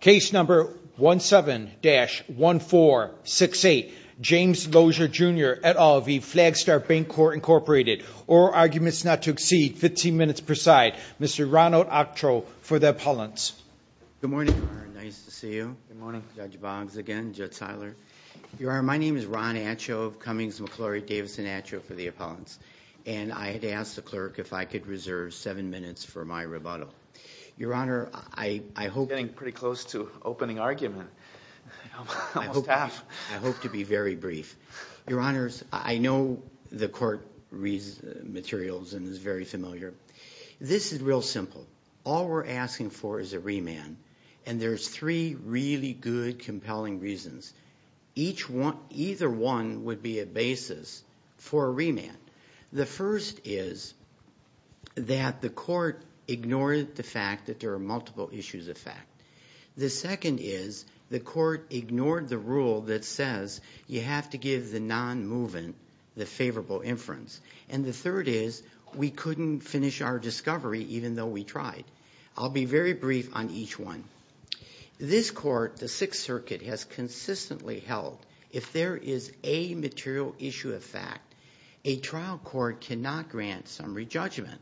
Case number 17-1468, James Lossia Jr. et al v. Flagstar Bancorp Incorporated. All arguments not to exceed 15 minutes per side. Mr. Ron Ochoa for the appellants. Good morning, Your Honor. Nice to see you. Good morning, Judge Boggs again, Judge Seiler. Your Honor, my name is Ron Ochoa of Cummings-McClory-Davison Ochoa for the appellants. And I had asked the clerk if I could reserve seven minutes for my rebuttal. Your Honor, I hope... You're getting pretty close to opening argument. I hope to be very brief. Your Honor, I know the court materials and is very familiar. This is real simple. All we're asking for is a remand. And there's three really good, compelling reasons. The first is that the court ignored the fact that there are multiple issues of fact. The second is the court ignored the rule that says you have to give the non-movement the favorable inference. And the third is we couldn't finish our discovery even though we tried. I'll be very brief on each one. This court, the Sixth Circuit, has consistently held if there is a material issue of fact, a trial court cannot grant summary judgment.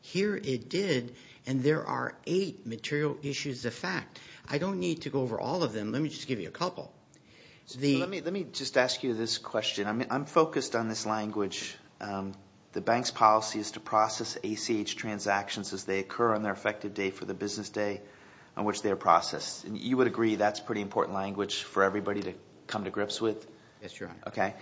Here it did, and there are eight material issues of fact. I don't need to go over all of them. Let me just give you a couple. Let me just ask you this question. I'm focused on this language. The bank's policy is to process ACH transactions as they occur on their effective day for the business day on which they are processed. You would agree that's pretty important language for everybody to come to grips with? Yes, Your Honor. Okay,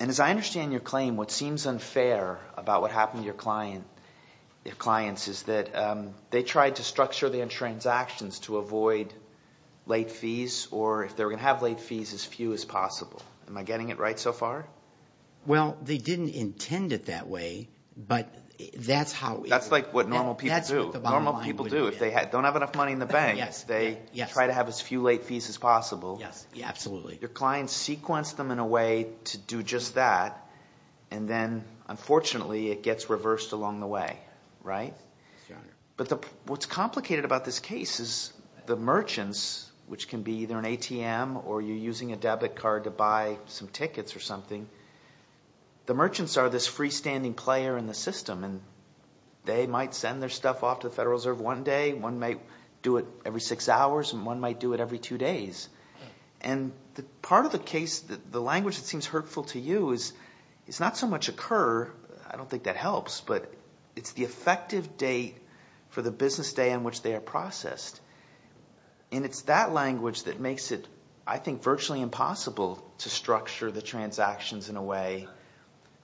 and as I understand your claim, what seems unfair about what happened to your clients is that they tried to structure their transactions to avoid late fees or if they were going to have late fees, as few as possible. Am I getting it right so far? Well, they didn't intend it that way, but that's how – That's like what normal people do. That's what the bottom line would be. Normal people do. If they don't have enough money in the bank, they try to have as few late fees as possible. Yes, absolutely. Your clients sequenced them in a way to do just that, and then unfortunately it gets reversed along the way, right? Yes, Your Honor. But what's complicated about this case is the merchants, which can be either an ATM or you're using a debit card to buy some tickets or something. The merchants are this freestanding player in the system, and they might send their stuff off to the Federal Reserve one day. One might do it every six hours and one might do it every two days. And part of the case – the language that seems hurtful to you is it's not so much a curve. I don't think that helps, but it's the effective date for the business day on which they are processed. And it's that language that makes it, I think, virtually impossible to structure the transactions in a way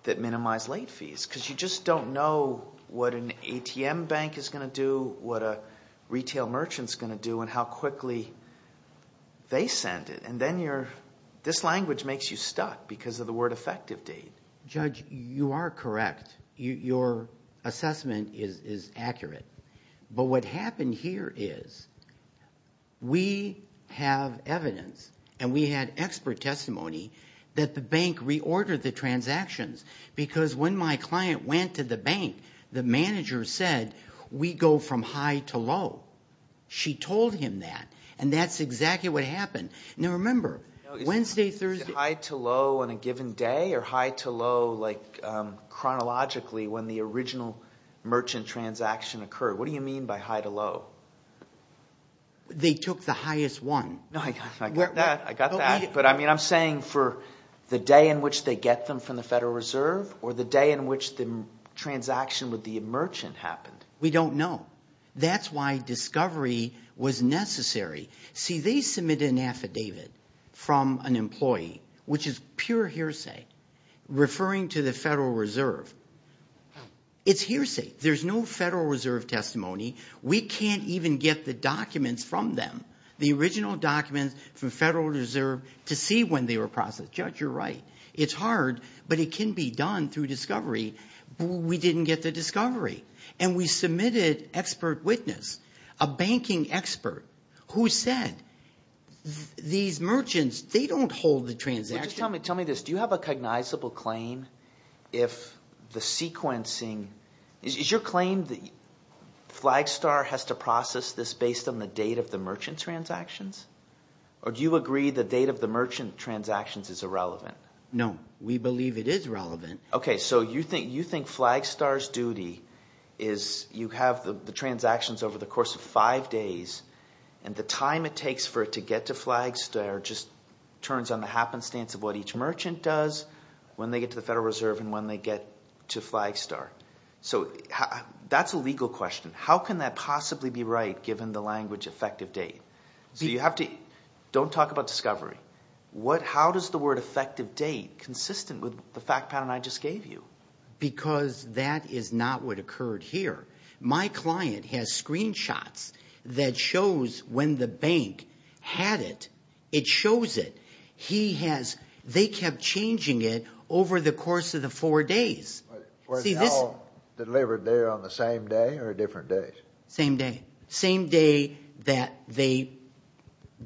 that minimizes late fees because you just don't know what an ATM bank is going to do, what a retail merchant is going to do, and how quickly they send it. And then this language makes you stuck because of the word effective date. Judge, you are correct. Your assessment is accurate. But what happened here is we have evidence and we had expert testimony that the bank reordered the transactions because when my client went to the bank, the manager said we go from high to low. She told him that, and that's exactly what happened. Now, remember, Wednesday, Thursday – Is it high to low on a given day or high to low like chronologically when the original merchant transaction occurred? What do you mean by high to low? They took the highest one. No, I got that. I got that. But I mean I'm saying for the day in which they get them from the Federal Reserve or the day in which the transaction with the merchant happened. We don't know. That's why discovery was necessary. See, they submitted an affidavit from an employee, which is pure hearsay, referring to the Federal Reserve. It's hearsay. There's no Federal Reserve testimony. We can't even get the documents from them, the original documents from Federal Reserve, to see when they were processed. Judge, you're right. It's hard, but it can be done through discovery. We didn't get the discovery. And we submitted expert witness, a banking expert, who said these merchants, they don't hold the transaction. Well, just tell me this. Do you have a cognizable claim if the sequencing – is your claim that Flagstar has to process this based on the date of the merchant's transactions? Or do you agree the date of the merchant's transactions is irrelevant? No, we believe it is relevant. Okay, so you think Flagstar's duty is you have the transactions over the course of five days, and the time it takes for it to get to Flagstar just turns on the happenstance of what each merchant does, when they get to the Federal Reserve, and when they get to Flagstar. So that's a legal question. How can that possibly be right given the language effective date? So you have to – don't talk about discovery. How does the word effective date consistent with the fact pattern I just gave you? Because that is not what occurred here. My client has screenshots that shows when the bank had it. It shows it. He has – they kept changing it over the course of the four days. Were they all delivered there on the same day or different days? Same day. Same day that they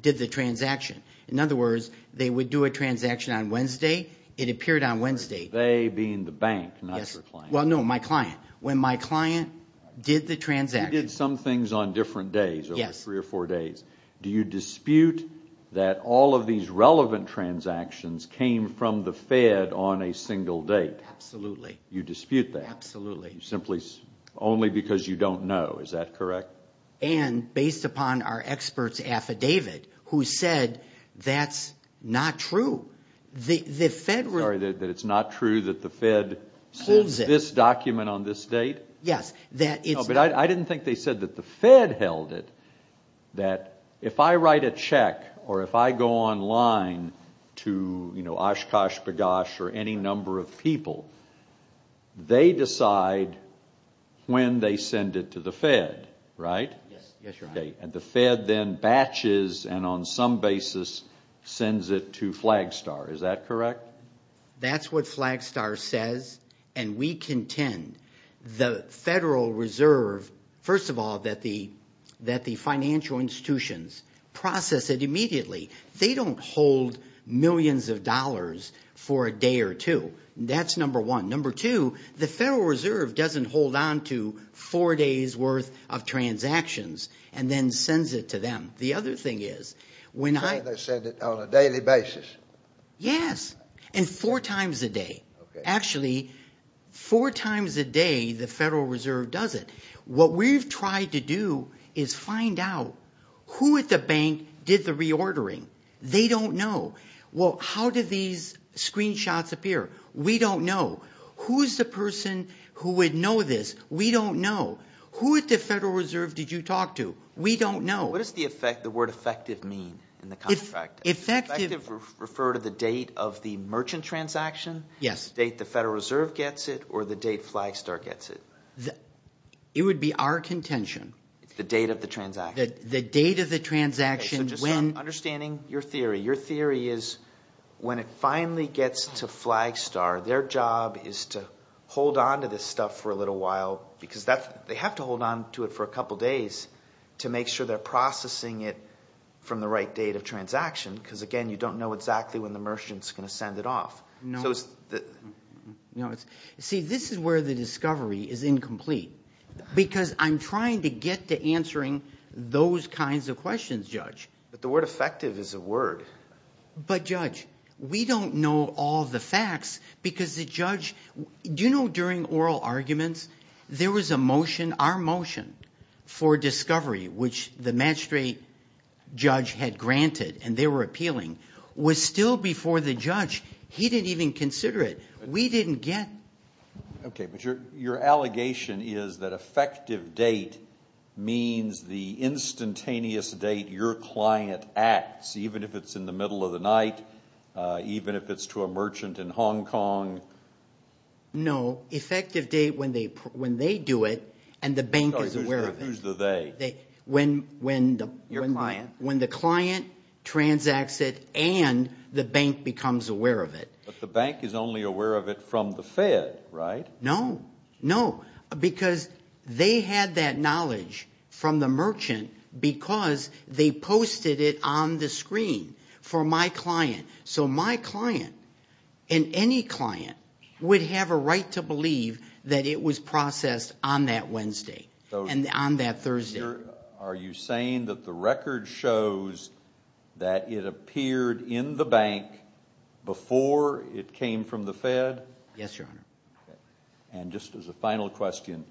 did the transaction. In other words, they would do a transaction on Wednesday. It appeared on Wednesday. They being the bank, not your client. Well, no, my client. When my client did the transaction. He did some things on different days, over three or four days. Yes. Do you dispute that all of these relevant transactions came from the Fed on a single date? Absolutely. You dispute that? Absolutely. Simply only because you don't know. Is that correct? And based upon our experts' affidavit, who said that's not true. The Fed – Sorry, that it's not true that the Fed says this document on this date? Yes, that it's – No, but I didn't think they said that the Fed held it. That if I write a check or if I go online to, you know, Oshkosh B'Gosh or any number of people, they decide when they send it to the Fed, right? Yes. Yes, Your Honor. And the Fed then batches and on some basis sends it to Flagstar. Is that correct? That's what Flagstar says and we contend. The Federal Reserve, first of all, that the financial institutions process it immediately. They don't hold millions of dollars for a day or two. That's number one. Number two, the Federal Reserve doesn't hold on to four days' worth of transactions and then sends it to them. The other thing is when I – So they send it on a daily basis? Yes, and four times a day. Actually, four times a day the Federal Reserve does it. What we've tried to do is find out who at the bank did the reordering. They don't know. Well, how do these screenshots appear? We don't know. Who is the person who would know this? We don't know. Who at the Federal Reserve did you talk to? We don't know. What does the word effective mean in the contract? Effective. Does effective refer to the date of the merchant transaction? Yes. The date the Federal Reserve gets it or the date Flagstar gets it? It would be our contention. It's the date of the transaction. The date of the transaction. So just understanding your theory. Your theory is when it finally gets to Flagstar, their job is to hold on to this stuff for a little while because that's – they have to hold on to it for a couple days to make sure they're processing it from the right date of transaction because, again, you don't know exactly when the merchant is going to send it off. No. See, this is where the discovery is incomplete because I'm trying to get to answering those kinds of questions, Judge. But the word effective is a word. But, Judge, we don't know all the facts because the judge – do you know during oral arguments there was a motion – the magistrate judge had granted and they were appealing was still before the judge. He didn't even consider it. We didn't get – Okay, but your allegation is that effective date means the instantaneous date your client acts, even if it's in the middle of the night, even if it's to a merchant in Hong Kong. No. Effective date when they do it and the bank is aware of it. Who's the they? Your client. When the client transacts it and the bank becomes aware of it. But the bank is only aware of it from the Fed, right? No. No. Because they had that knowledge from the merchant because they posted it on the screen for my client. So my client and any client would have a right to believe that it was processed on that Wednesday and on that Thursday. Judge, are you saying that the record shows that it appeared in the bank before it came from the Fed? Yes, Your Honor. And just as a final question,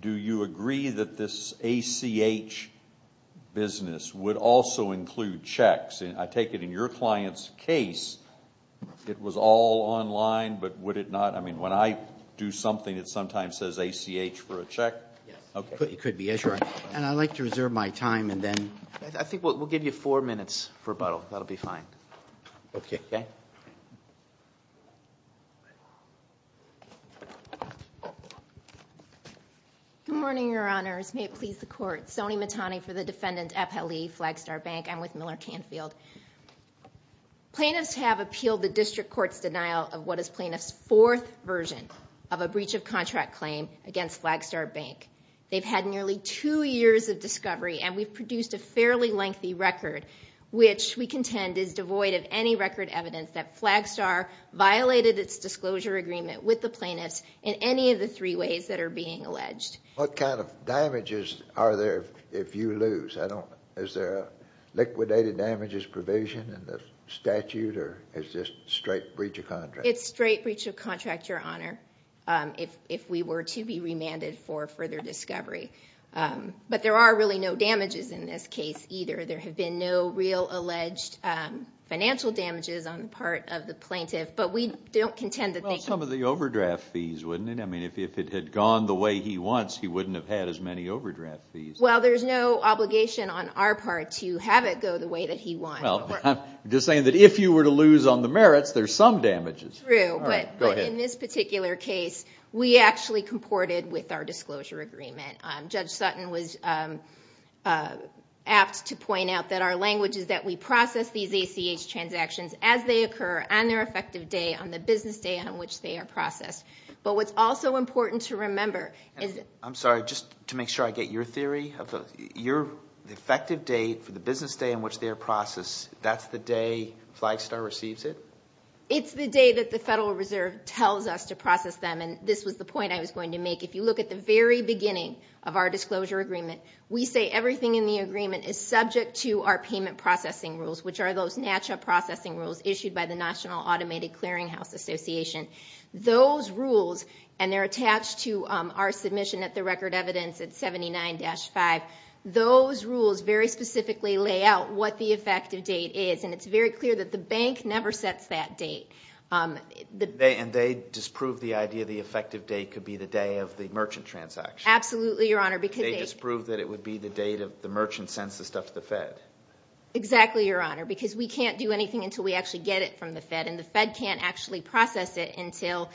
do you agree that this ACH business would also include checks? I take it in your client's case it was all online, but would it not – I mean, when I do something it sometimes says ACH for a check? Yes. It could be, yes, Your Honor. And I'd like to reserve my time and then – I think we'll give you four minutes for rebuttal. That'll be fine. Okay. Good morning, Your Honors. May it please the Court. Sony Matani for the defendant, FLE, Flagstar Bank. I'm with Miller Canfield. Plaintiffs have appealed the district court's denial of what is plaintiff's fourth version of a breach of contract claim against Flagstar Bank. They've had nearly two years of discovery, and we've produced a fairly lengthy record, which we contend is devoid of any record evidence that Flagstar violated its disclosure agreement with the plaintiffs in any of the three ways that are being alleged. What kind of damages are there if you lose? Is there a liquidated damages provision in the statute, or is this straight breach of contract? If we were to be remanded for further discovery. But there are really no damages in this case either. There have been no real alleged financial damages on the part of the plaintiff. But we don't contend that they – Well, some of the overdraft fees, wouldn't it? I mean, if it had gone the way he wants, he wouldn't have had as many overdraft fees. Well, there's no obligation on our part to have it go the way that he wants. Well, I'm just saying that if you were to lose on the merits, there's some damages. True. But in this particular case, we actually comported with our disclosure agreement. Judge Sutton was apt to point out that our language is that we process these ACH transactions as they occur on their effective day, on the business day on which they are processed. But what's also important to remember is – I'm sorry, just to make sure I get your theory. Your effective date for the business day on which they are processed, that's the day Flagstar receives it? It's the day that the Federal Reserve tells us to process them. And this was the point I was going to make. If you look at the very beginning of our disclosure agreement, we say everything in the agreement is subject to our payment processing rules, which are those NATCHA processing rules issued by the National Automated Clearinghouse Association. Those rules – and they're attached to our submission at the record evidence at 79-5. Those rules very specifically lay out what the effective date is. And it's very clear that the bank never sets that date. And they disprove the idea the effective date could be the day of the merchant transaction. Absolutely, Your Honor, because they – They disprove that it would be the date of the merchant sends the stuff to the Fed. Exactly, Your Honor, because we can't do anything until we actually get it from the Fed, and the Fed can't actually process it until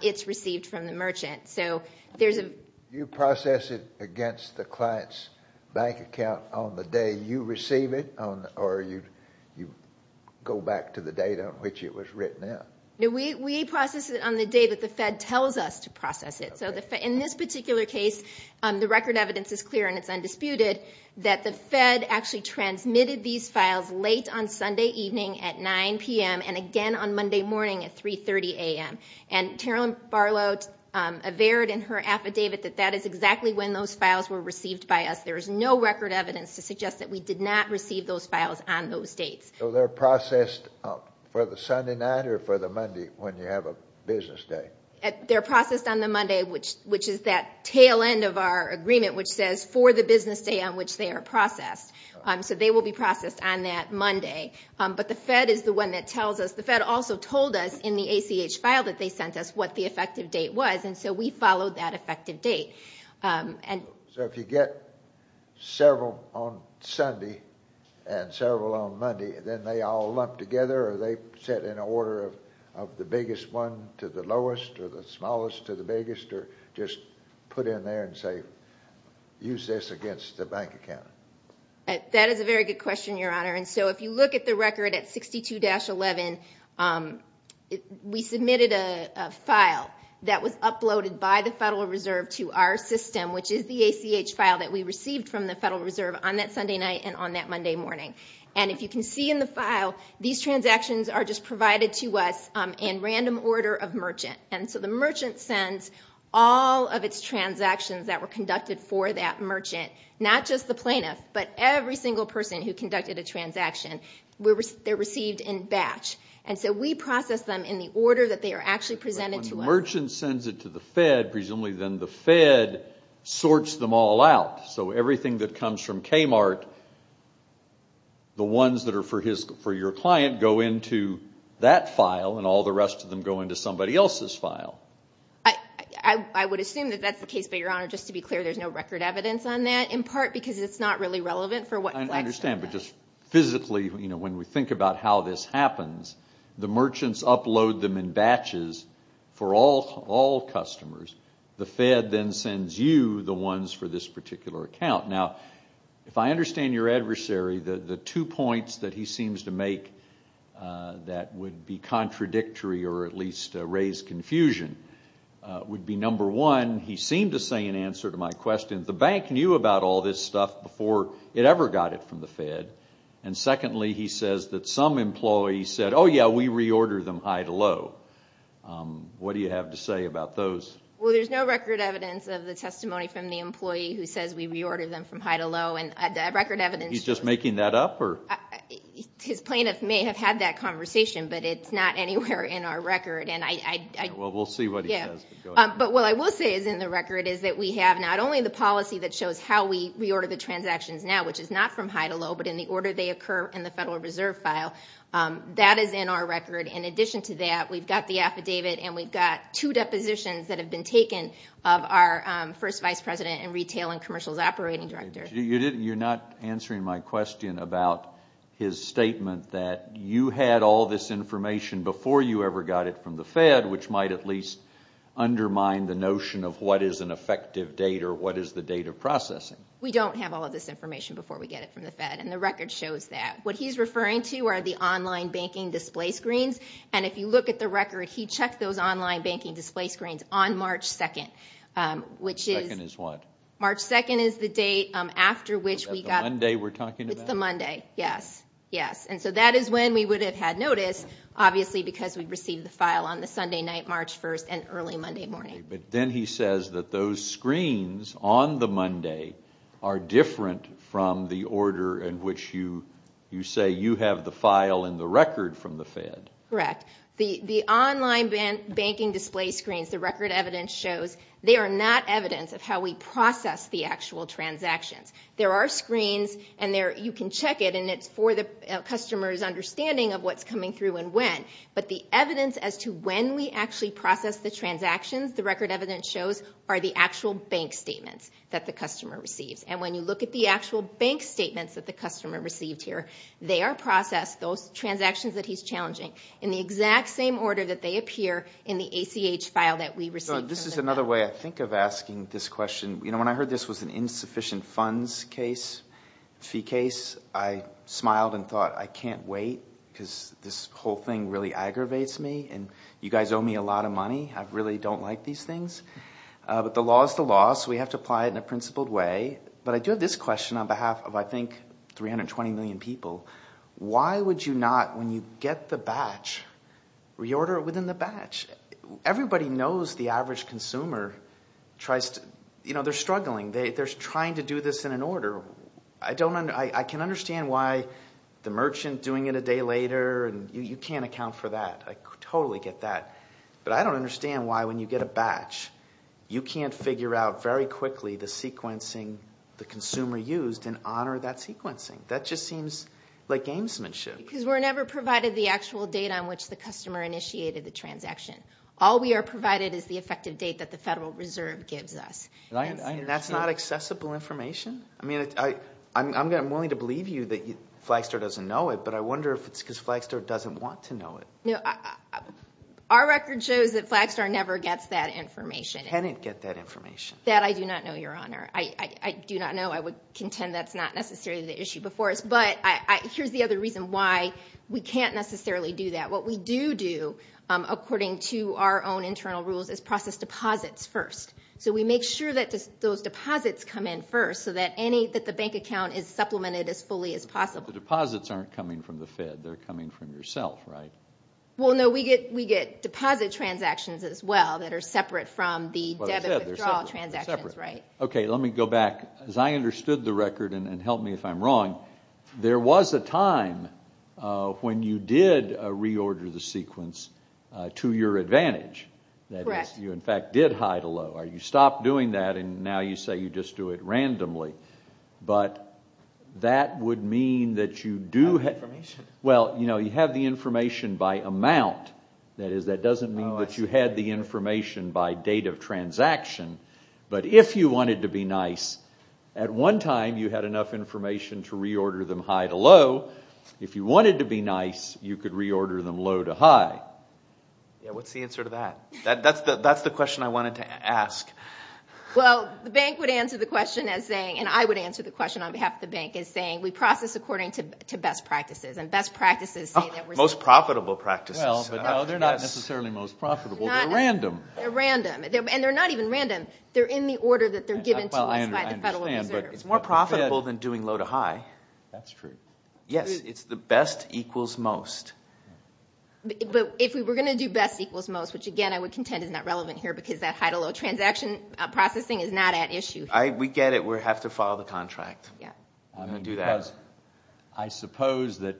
it's received from the merchant. You process it against the client's bank account on the day you receive it, or you go back to the date on which it was written in? No, we process it on the day that the Fed tells us to process it. So in this particular case, the record evidence is clear and it's undisputed that the Fed actually transmitted these files late on Sunday evening at 9 p.m. and again on Monday morning at 3.30 a.m. And Carolyn Barlow averred in her affidavit that that is exactly when those files were received by us. There is no record evidence to suggest that we did not receive those files on those dates. So they're processed for the Sunday night or for the Monday when you have a business day? They're processed on the Monday, which is that tail end of our agreement, which says for the business day on which they are processed. So they will be processed on that Monday. But the Fed is the one that tells us. The Fed also told us in the ACH file that they sent us what the effective date was, and so we followed that effective date. So if you get several on Sunday and several on Monday, then they all lump together or are they set in order of the biggest one to the lowest or the smallest to the biggest, or just put in there and say, use this against the bank account? That is a very good question, Your Honor. And so if you look at the record at 62-11, we submitted a file that was uploaded by the Federal Reserve to our system, which is the ACH file that we received from the Federal Reserve on that Sunday night and on that Monday morning. And if you can see in the file, these transactions are just provided to us in random order of merchant. And so the merchant sends all of its transactions that were conducted for that merchant, not just the plaintiff, but every single person who conducted a transaction, they're received in batch. And so we process them in the order that they are actually presented to us. But when the merchant sends it to the Fed, presumably then the Fed sorts them all out. So everything that comes from Kmart, the ones that are for your client go into that file and all the rest of them go into somebody else's file. I would assume that that's the case, but, Your Honor, just to be clear, there's no record evidence on that, in part because it's not really relevant. I understand, but just physically, when we think about how this happens, the merchants upload them in batches for all customers. The Fed then sends you the ones for this particular account. Now, if I understand your adversary, the two points that he seems to make that would be contradictory or at least raise confusion would be, number one, he seemed to say in answer to my question, the bank knew about all this stuff before it ever got it from the Fed. And, secondly, he says that some employees said, oh, yeah, we reordered them high to low. What do you have to say about those? Well, there's no record evidence of the testimony from the employee who says we reordered them from high to low. And the record evidence... He's just making that up? His plaintiff may have had that conversation, but it's not anywhere in our record. Well, we'll see what he says. But what I will say is in the record is that we have not only the policy that shows how we reorder the transactions now, which is not from high to low, but in the order they occur in the Federal Reserve file. That is in our record. In addition to that, we've got the affidavit, and we've got two depositions that have been taken of our first vice president and retail and commercials operating director. You're not answering my question about his statement that you had all this information before you ever got it from the Fed, which might at least undermine the notion of what is an effective date or what is the date of processing. We don't have all of this information before we get it from the Fed, and the record shows that. What he's referring to are the online banking display screens, and if you look at the record, he checked those online banking display screens on March 2nd, which is... March 2nd is what? March 2nd is the date after which we got... Is that the Monday we're talking about? It's the Monday, yes. And so that is when we would have had notice, obviously because we'd received the file on the Sunday night, March 1st, and early Monday morning. But then he says that those screens on the Monday are different from the order in which you say you have the file and the record from the Fed. Correct. The online banking display screens, the record evidence shows, they are not evidence of how we process the actual transactions. There are screens, and you can check it, and it's for the customer's understanding of what's coming through and when. But the evidence as to when we actually process the transactions, the record evidence shows, are the actual bank statements that the customer receives. And when you look at the actual bank statements that the customer received here, they are processed, those transactions that he's challenging, in the exact same order that they appear in the ACH file that we received from the Fed. This is another way, I think, of asking this question. When I heard this was an insufficient funds case, fee case, I smiled and thought, I can't wait because this whole thing really aggravates me, and you guys owe me a lot of money. I really don't like these things. But the law is the law, so we have to apply it in a principled way. But I do have this question on behalf of, I think, 320 million people. Why would you not, when you get the batch, reorder it within the batch? Everybody knows the average consumer tries to, you know, they're struggling. They're trying to do this in an order. I can understand why the merchant doing it a day later, and you can't account for that. I totally get that. But I don't understand why, when you get a batch, you can't figure out very quickly the sequencing the consumer used and honor that sequencing. That just seems like gamesmanship. Because we're never provided the actual date on which the customer initiated the transaction. All we are provided is the effective date that the Federal Reserve gives us. That's not accessible information? I mean, I'm willing to believe you that Flagstar doesn't know it, but I wonder if it's because Flagstar doesn't want to know it. Our record shows that Flagstar never gets that information. Can it get that information? That I do not know, Your Honor. I do not know. I would contend that's not necessarily the issue before us. But here's the other reason why we can't necessarily do that. What we do do, according to our own internal rules, is process deposits first. So we make sure that those deposits come in first so that the bank account is supplemented as fully as possible. But the deposits aren't coming from the Fed. They're coming from yourself, right? Well, no, we get deposit transactions as well that are separate from the debit withdrawal transactions. Okay, let me go back. As I understood the record, and help me if I'm wrong, there was a time when you did reorder the sequence to your advantage. That is, you in fact did high to low. You stopped doing that, and now you say you just do it randomly. But that would mean that you do have the information by amount. That doesn't mean that you had the information by date of transaction. But if you wanted to be nice, at one time you had enough information to reorder them high to low. If you wanted to be nice, you could reorder them low to high. Yeah, what's the answer to that? That's the question I wanted to ask. Well, the bank would answer the question as saying, and I would answer the question on behalf of the bank as saying, we process according to best practices. And best practices say that we're doing it. Most profitable practices. Well, they're not necessarily most profitable. They're random. They're random. And they're not even random. They're in the order that they're given to us by the Federal Reserve. It's more profitable than doing low to high. That's true. Yes, it's the best equals most. But if we were going to do best equals most, which again I would contend is not relevant here because that high to low transaction processing is not at issue here. We get it. We have to follow the contract. Yeah. I'm going to do that. I suppose that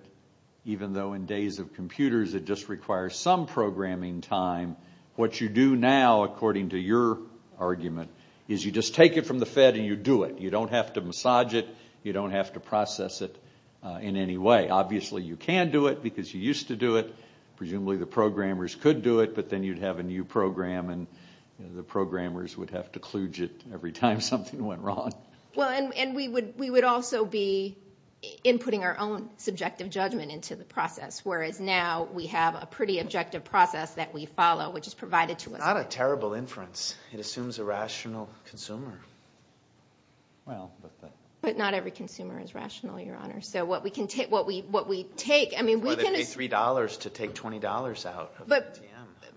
even though in days of computers it just requires some programming time, what you do now, according to your argument, is you just take it from the Fed and you do it. You don't have to massage it. You don't have to process it in any way. Obviously you can do it because you used to do it. Presumably the programmers could do it, but then you'd have a new program and the programmers would have to kludge it every time something went wrong. Well, and we would also be inputting our own subjective judgment into the process, whereas now we have a pretty objective process that we follow, which is provided to us. Not a terrible inference. It assumes a rational consumer. Well, but that. But not every consumer is rational, Your Honor. So what we take, I mean, we can assume. Why would they pay $3 to take $20 out of the ATM?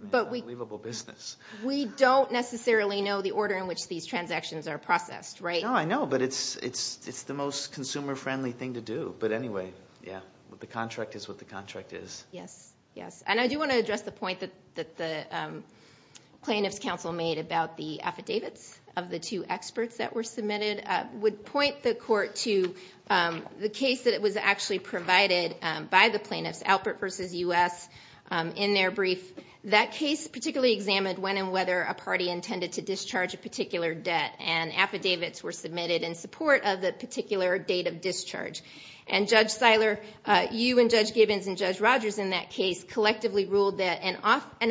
It's an unbelievable business. We don't necessarily know the order in which these transactions are processed, right? No, I know, but it's the most consumer-friendly thing to do. But anyway, yeah, the contract is what the contract is. Yes, yes. And I do want to address the point that the plaintiffs' counsel made about the affidavits of the two experts that were submitted. I would point the Court to the case that was actually provided by the plaintiffs, Alpert v. U.S., in their brief. That case particularly examined when and whether a party intended to discharge a particular debt, and affidavits were submitted in support of the particular date of discharge. And Judge Seiler, you and Judge Gibbons and Judge Rogers in that case collectively ruled that an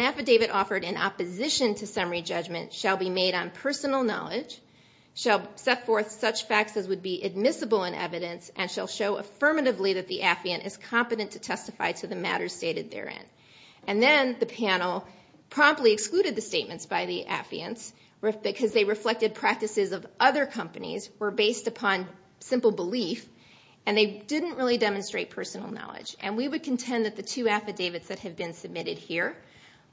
affidavit offered in opposition to summary judgment shall be made on personal knowledge, shall set forth such facts as would be admissible in evidence, and shall show affirmatively that the affiant is competent to testify to the matters stated therein. And then the panel promptly excluded the statements by the affiants because they reflected practices of other companies, were based upon simple belief, and they didn't really demonstrate personal knowledge. And we would contend that the two affidavits that have been submitted here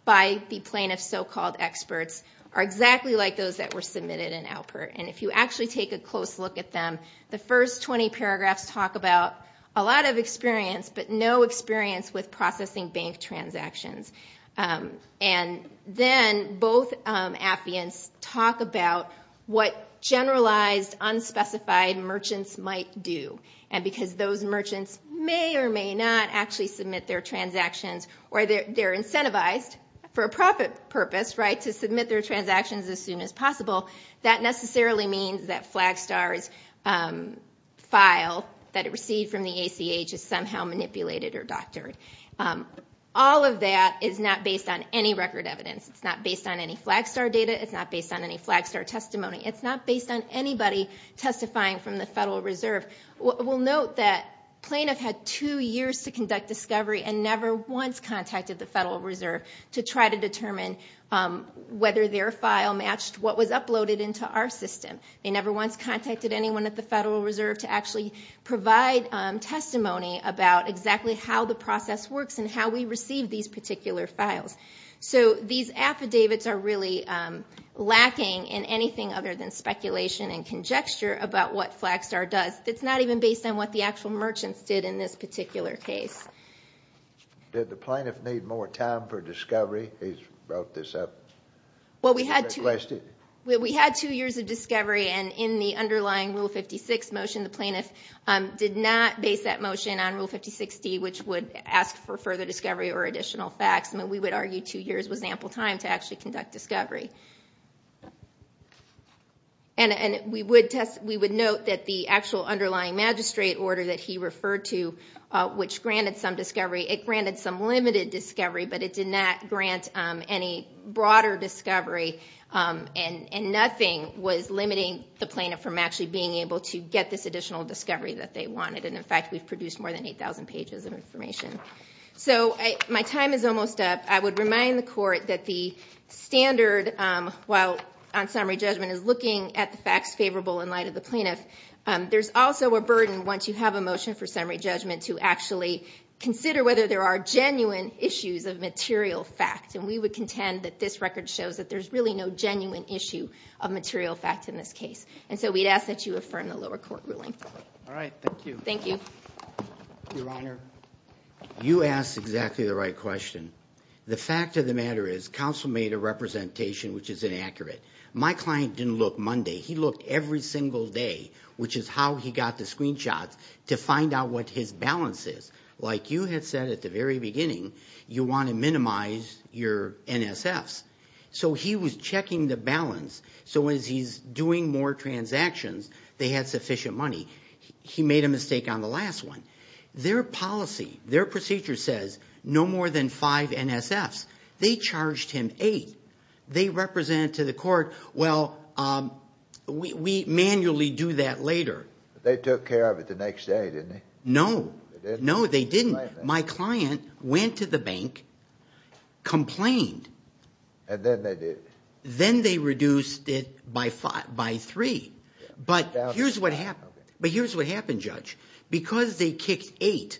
by the plaintiff's so-called experts are exactly like those that were submitted in Alpert. And if you actually take a close look at them, the first 20 paragraphs talk about a lot of experience, but no experience with processing bank transactions. And then both affiants talk about what generalized, unspecified merchants might do. And because those merchants may or may not actually submit their transactions, or they're incentivized for a profit purpose, right, to submit their transactions as soon as possible, that necessarily means that Flagstar's file that it received from the ACH is somehow manipulated or doctored. All of that is not based on any record evidence. It's not based on any Flagstar data. It's not based on any Flagstar testimony. It's not based on anybody testifying from the Federal Reserve. We'll note that plaintiff had two years to conduct discovery and never once contacted the Federal Reserve to try to determine whether their file matched what was uploaded into our system. They never once contacted anyone at the Federal Reserve to actually provide testimony about exactly how the process works and how we received these particular files. So these affidavits are really lacking in anything other than speculation and conjecture about what Flagstar does. It's not even based on what the actual merchants did in this particular case. Did the plaintiff need more time for discovery? He's brought this up. Well, we had two years of discovery, and in the underlying Rule 56 motion, the plaintiff did not base that motion on Rule 5060, which would ask for further discovery or additional facts. I mean, we would argue two years was ample time to actually conduct discovery. And we would note that the actual underlying magistrate order that he referred to, which granted some discovery, it granted some limited discovery, but it did not grant any broader discovery. And nothing was limiting the plaintiff from actually being able to get this additional discovery that they wanted. And in fact, we've produced more than 8,000 pages of information. So my time is almost up. I would remind the Court that the standard, while on summary judgment, is looking at the facts favorable in light of the plaintiff. There's also a burden once you have a motion for summary judgment to actually consider whether there are genuine issues of material facts. And we would contend that this record shows that there's really no genuine issue of material facts in this case. And so we'd ask that you affirm the lower court ruling. All right. Thank you. Thank you. Your Honor. You asked exactly the right question. The fact of the matter is counsel made a representation which is inaccurate. My client didn't look Monday. He looked every single day, which is how he got the screenshots, to find out what his balance is. Like you had said at the very beginning, you want to minimize your NSFs. So he was checking the balance. So as he's doing more transactions, they had sufficient money. He made a mistake on the last one. Their policy, their procedure says no more than five NSFs. They charged him eight. They represented to the court, well, we manually do that later. They took care of it the next day, didn't they? No. No, they didn't. My client went to the bank, complained. And then they did? Then they reduced it by three. But here's what happened, Judge. Because they kicked eight,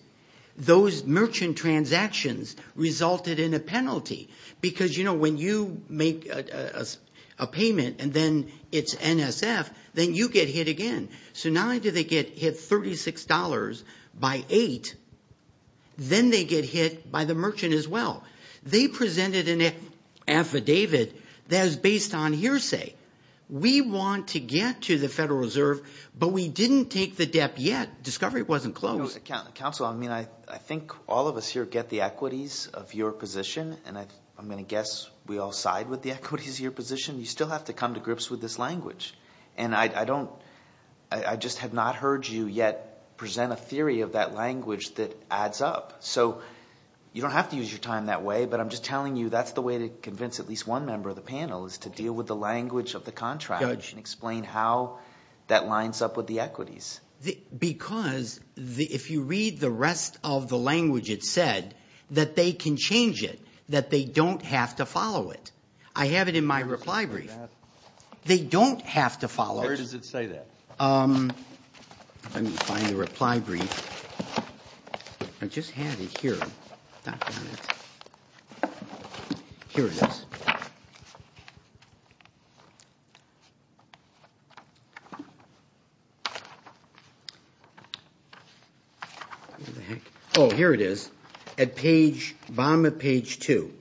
those merchant transactions resulted in a penalty. Because, you know, when you make a payment and then it's NSF, then you get hit again. So not only did they get hit $36 by eight, then they get hit by the merchant as well. They presented an affidavit that is based on hearsay. We want to get to the Federal Reserve, but we didn't take the debt yet. Discovery wasn't closed. Counsel, I mean, I think all of us here get the equities of your position. And I'm going to guess we all side with the equities of your position. You still have to come to grips with this language. And I don't – I just have not heard you yet present a theory of that language that adds up. So you don't have to use your time that way, but I'm just telling you that's the way to convince at least one member of the panel, is to deal with the language of the contract and explain how that lines up with the equities. Because if you read the rest of the language it said, that they can change it, that they don't have to follow it. I have it in my reply brief. They don't have to follow it. Where does it say that? Let me find the reply brief. I just had it here. Not found it. Here it is. Oh, here it is at bottom of page two.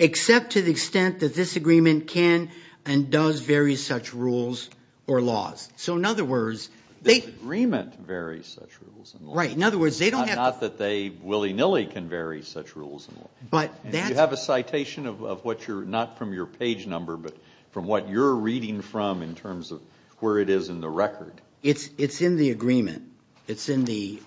Except to the extent that this agreement can and does vary such rules or laws. So in other words, they – This agreement varies such rules and laws. Right. In other words, they don't have – Not that they willy-nilly can vary such rules and laws. But that's – You have a citation of what you're – not from your page number, but from what you're reading from in terms of where it is in the record. It's in the agreement. It's in the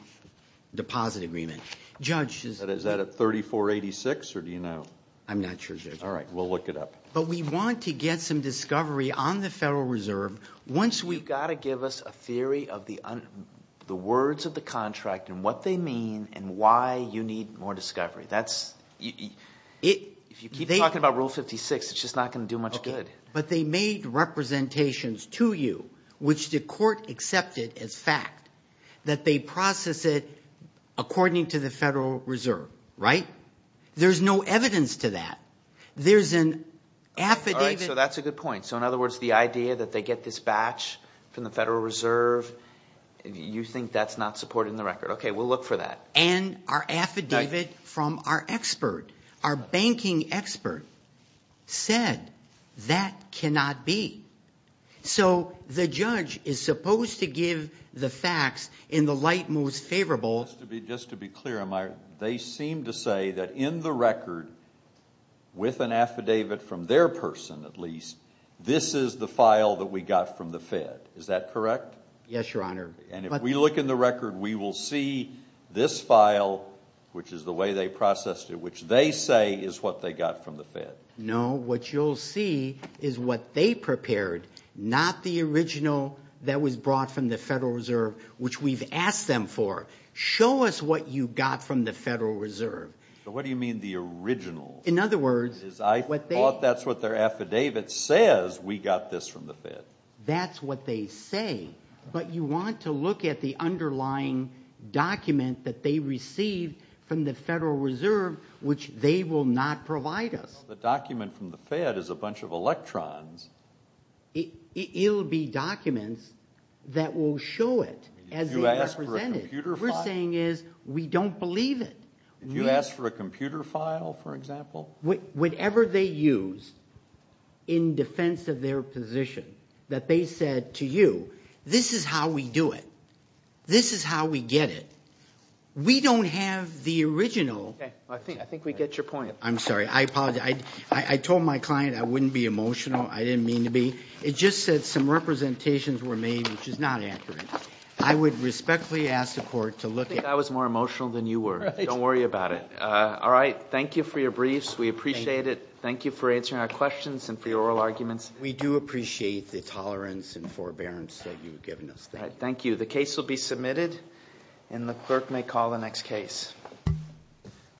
deposit agreement. Judge – Is that at 3486 or do you know? I'm not sure, Judge. All right. We'll look it up. But we want to get some discovery on the Federal Reserve once we – the words of the contract and what they mean and why you need more discovery. That's – if you keep talking about Rule 56, it's just not going to do much good. But they made representations to you, which the court accepted as fact, that they process it according to the Federal Reserve, right? There's no evidence to that. There's an affidavit – All right. So that's a good point. So, in other words, the idea that they get this batch from the Federal Reserve, you think that's not supported in the record. Okay. We'll look for that. And our affidavit from our expert, our banking expert, said that cannot be. So the judge is supposed to give the facts in the light most favorable – This is the file that we got from the Fed. Is that correct? Yes, Your Honor. And if we look in the record, we will see this file, which is the way they processed it, which they say is what they got from the Fed. No. What you'll see is what they prepared, not the original that was brought from the Federal Reserve, which we've asked them for. Show us what you got from the Federal Reserve. So what do you mean, the original? In other words – I thought that's what their affidavit says, we got this from the Fed. That's what they say. But you want to look at the underlying document that they received from the Federal Reserve, which they will not provide us. The document from the Fed is a bunch of electrons. It'll be documents that will show it as they represent it. If you ask for a computer file? What we're saying is we don't believe it. If you ask for a computer file, for example? Whatever they use in defense of their position, that they said to you, this is how we do it. This is how we get it. We don't have the original. I think we get your point. I'm sorry. I apologize. I told my client I wouldn't be emotional. I didn't mean to be. It just said some representations were made, which is not accurate. I would respectfully ask the court to look at – I think I was more emotional than you were. Don't worry about it. All right. Thank you for your briefs. We appreciate it. Thank you for answering our questions and for your oral arguments. We do appreciate the tolerance and forbearance that you've given us. Thank you. The case will be submitted, and the clerk may call the next case.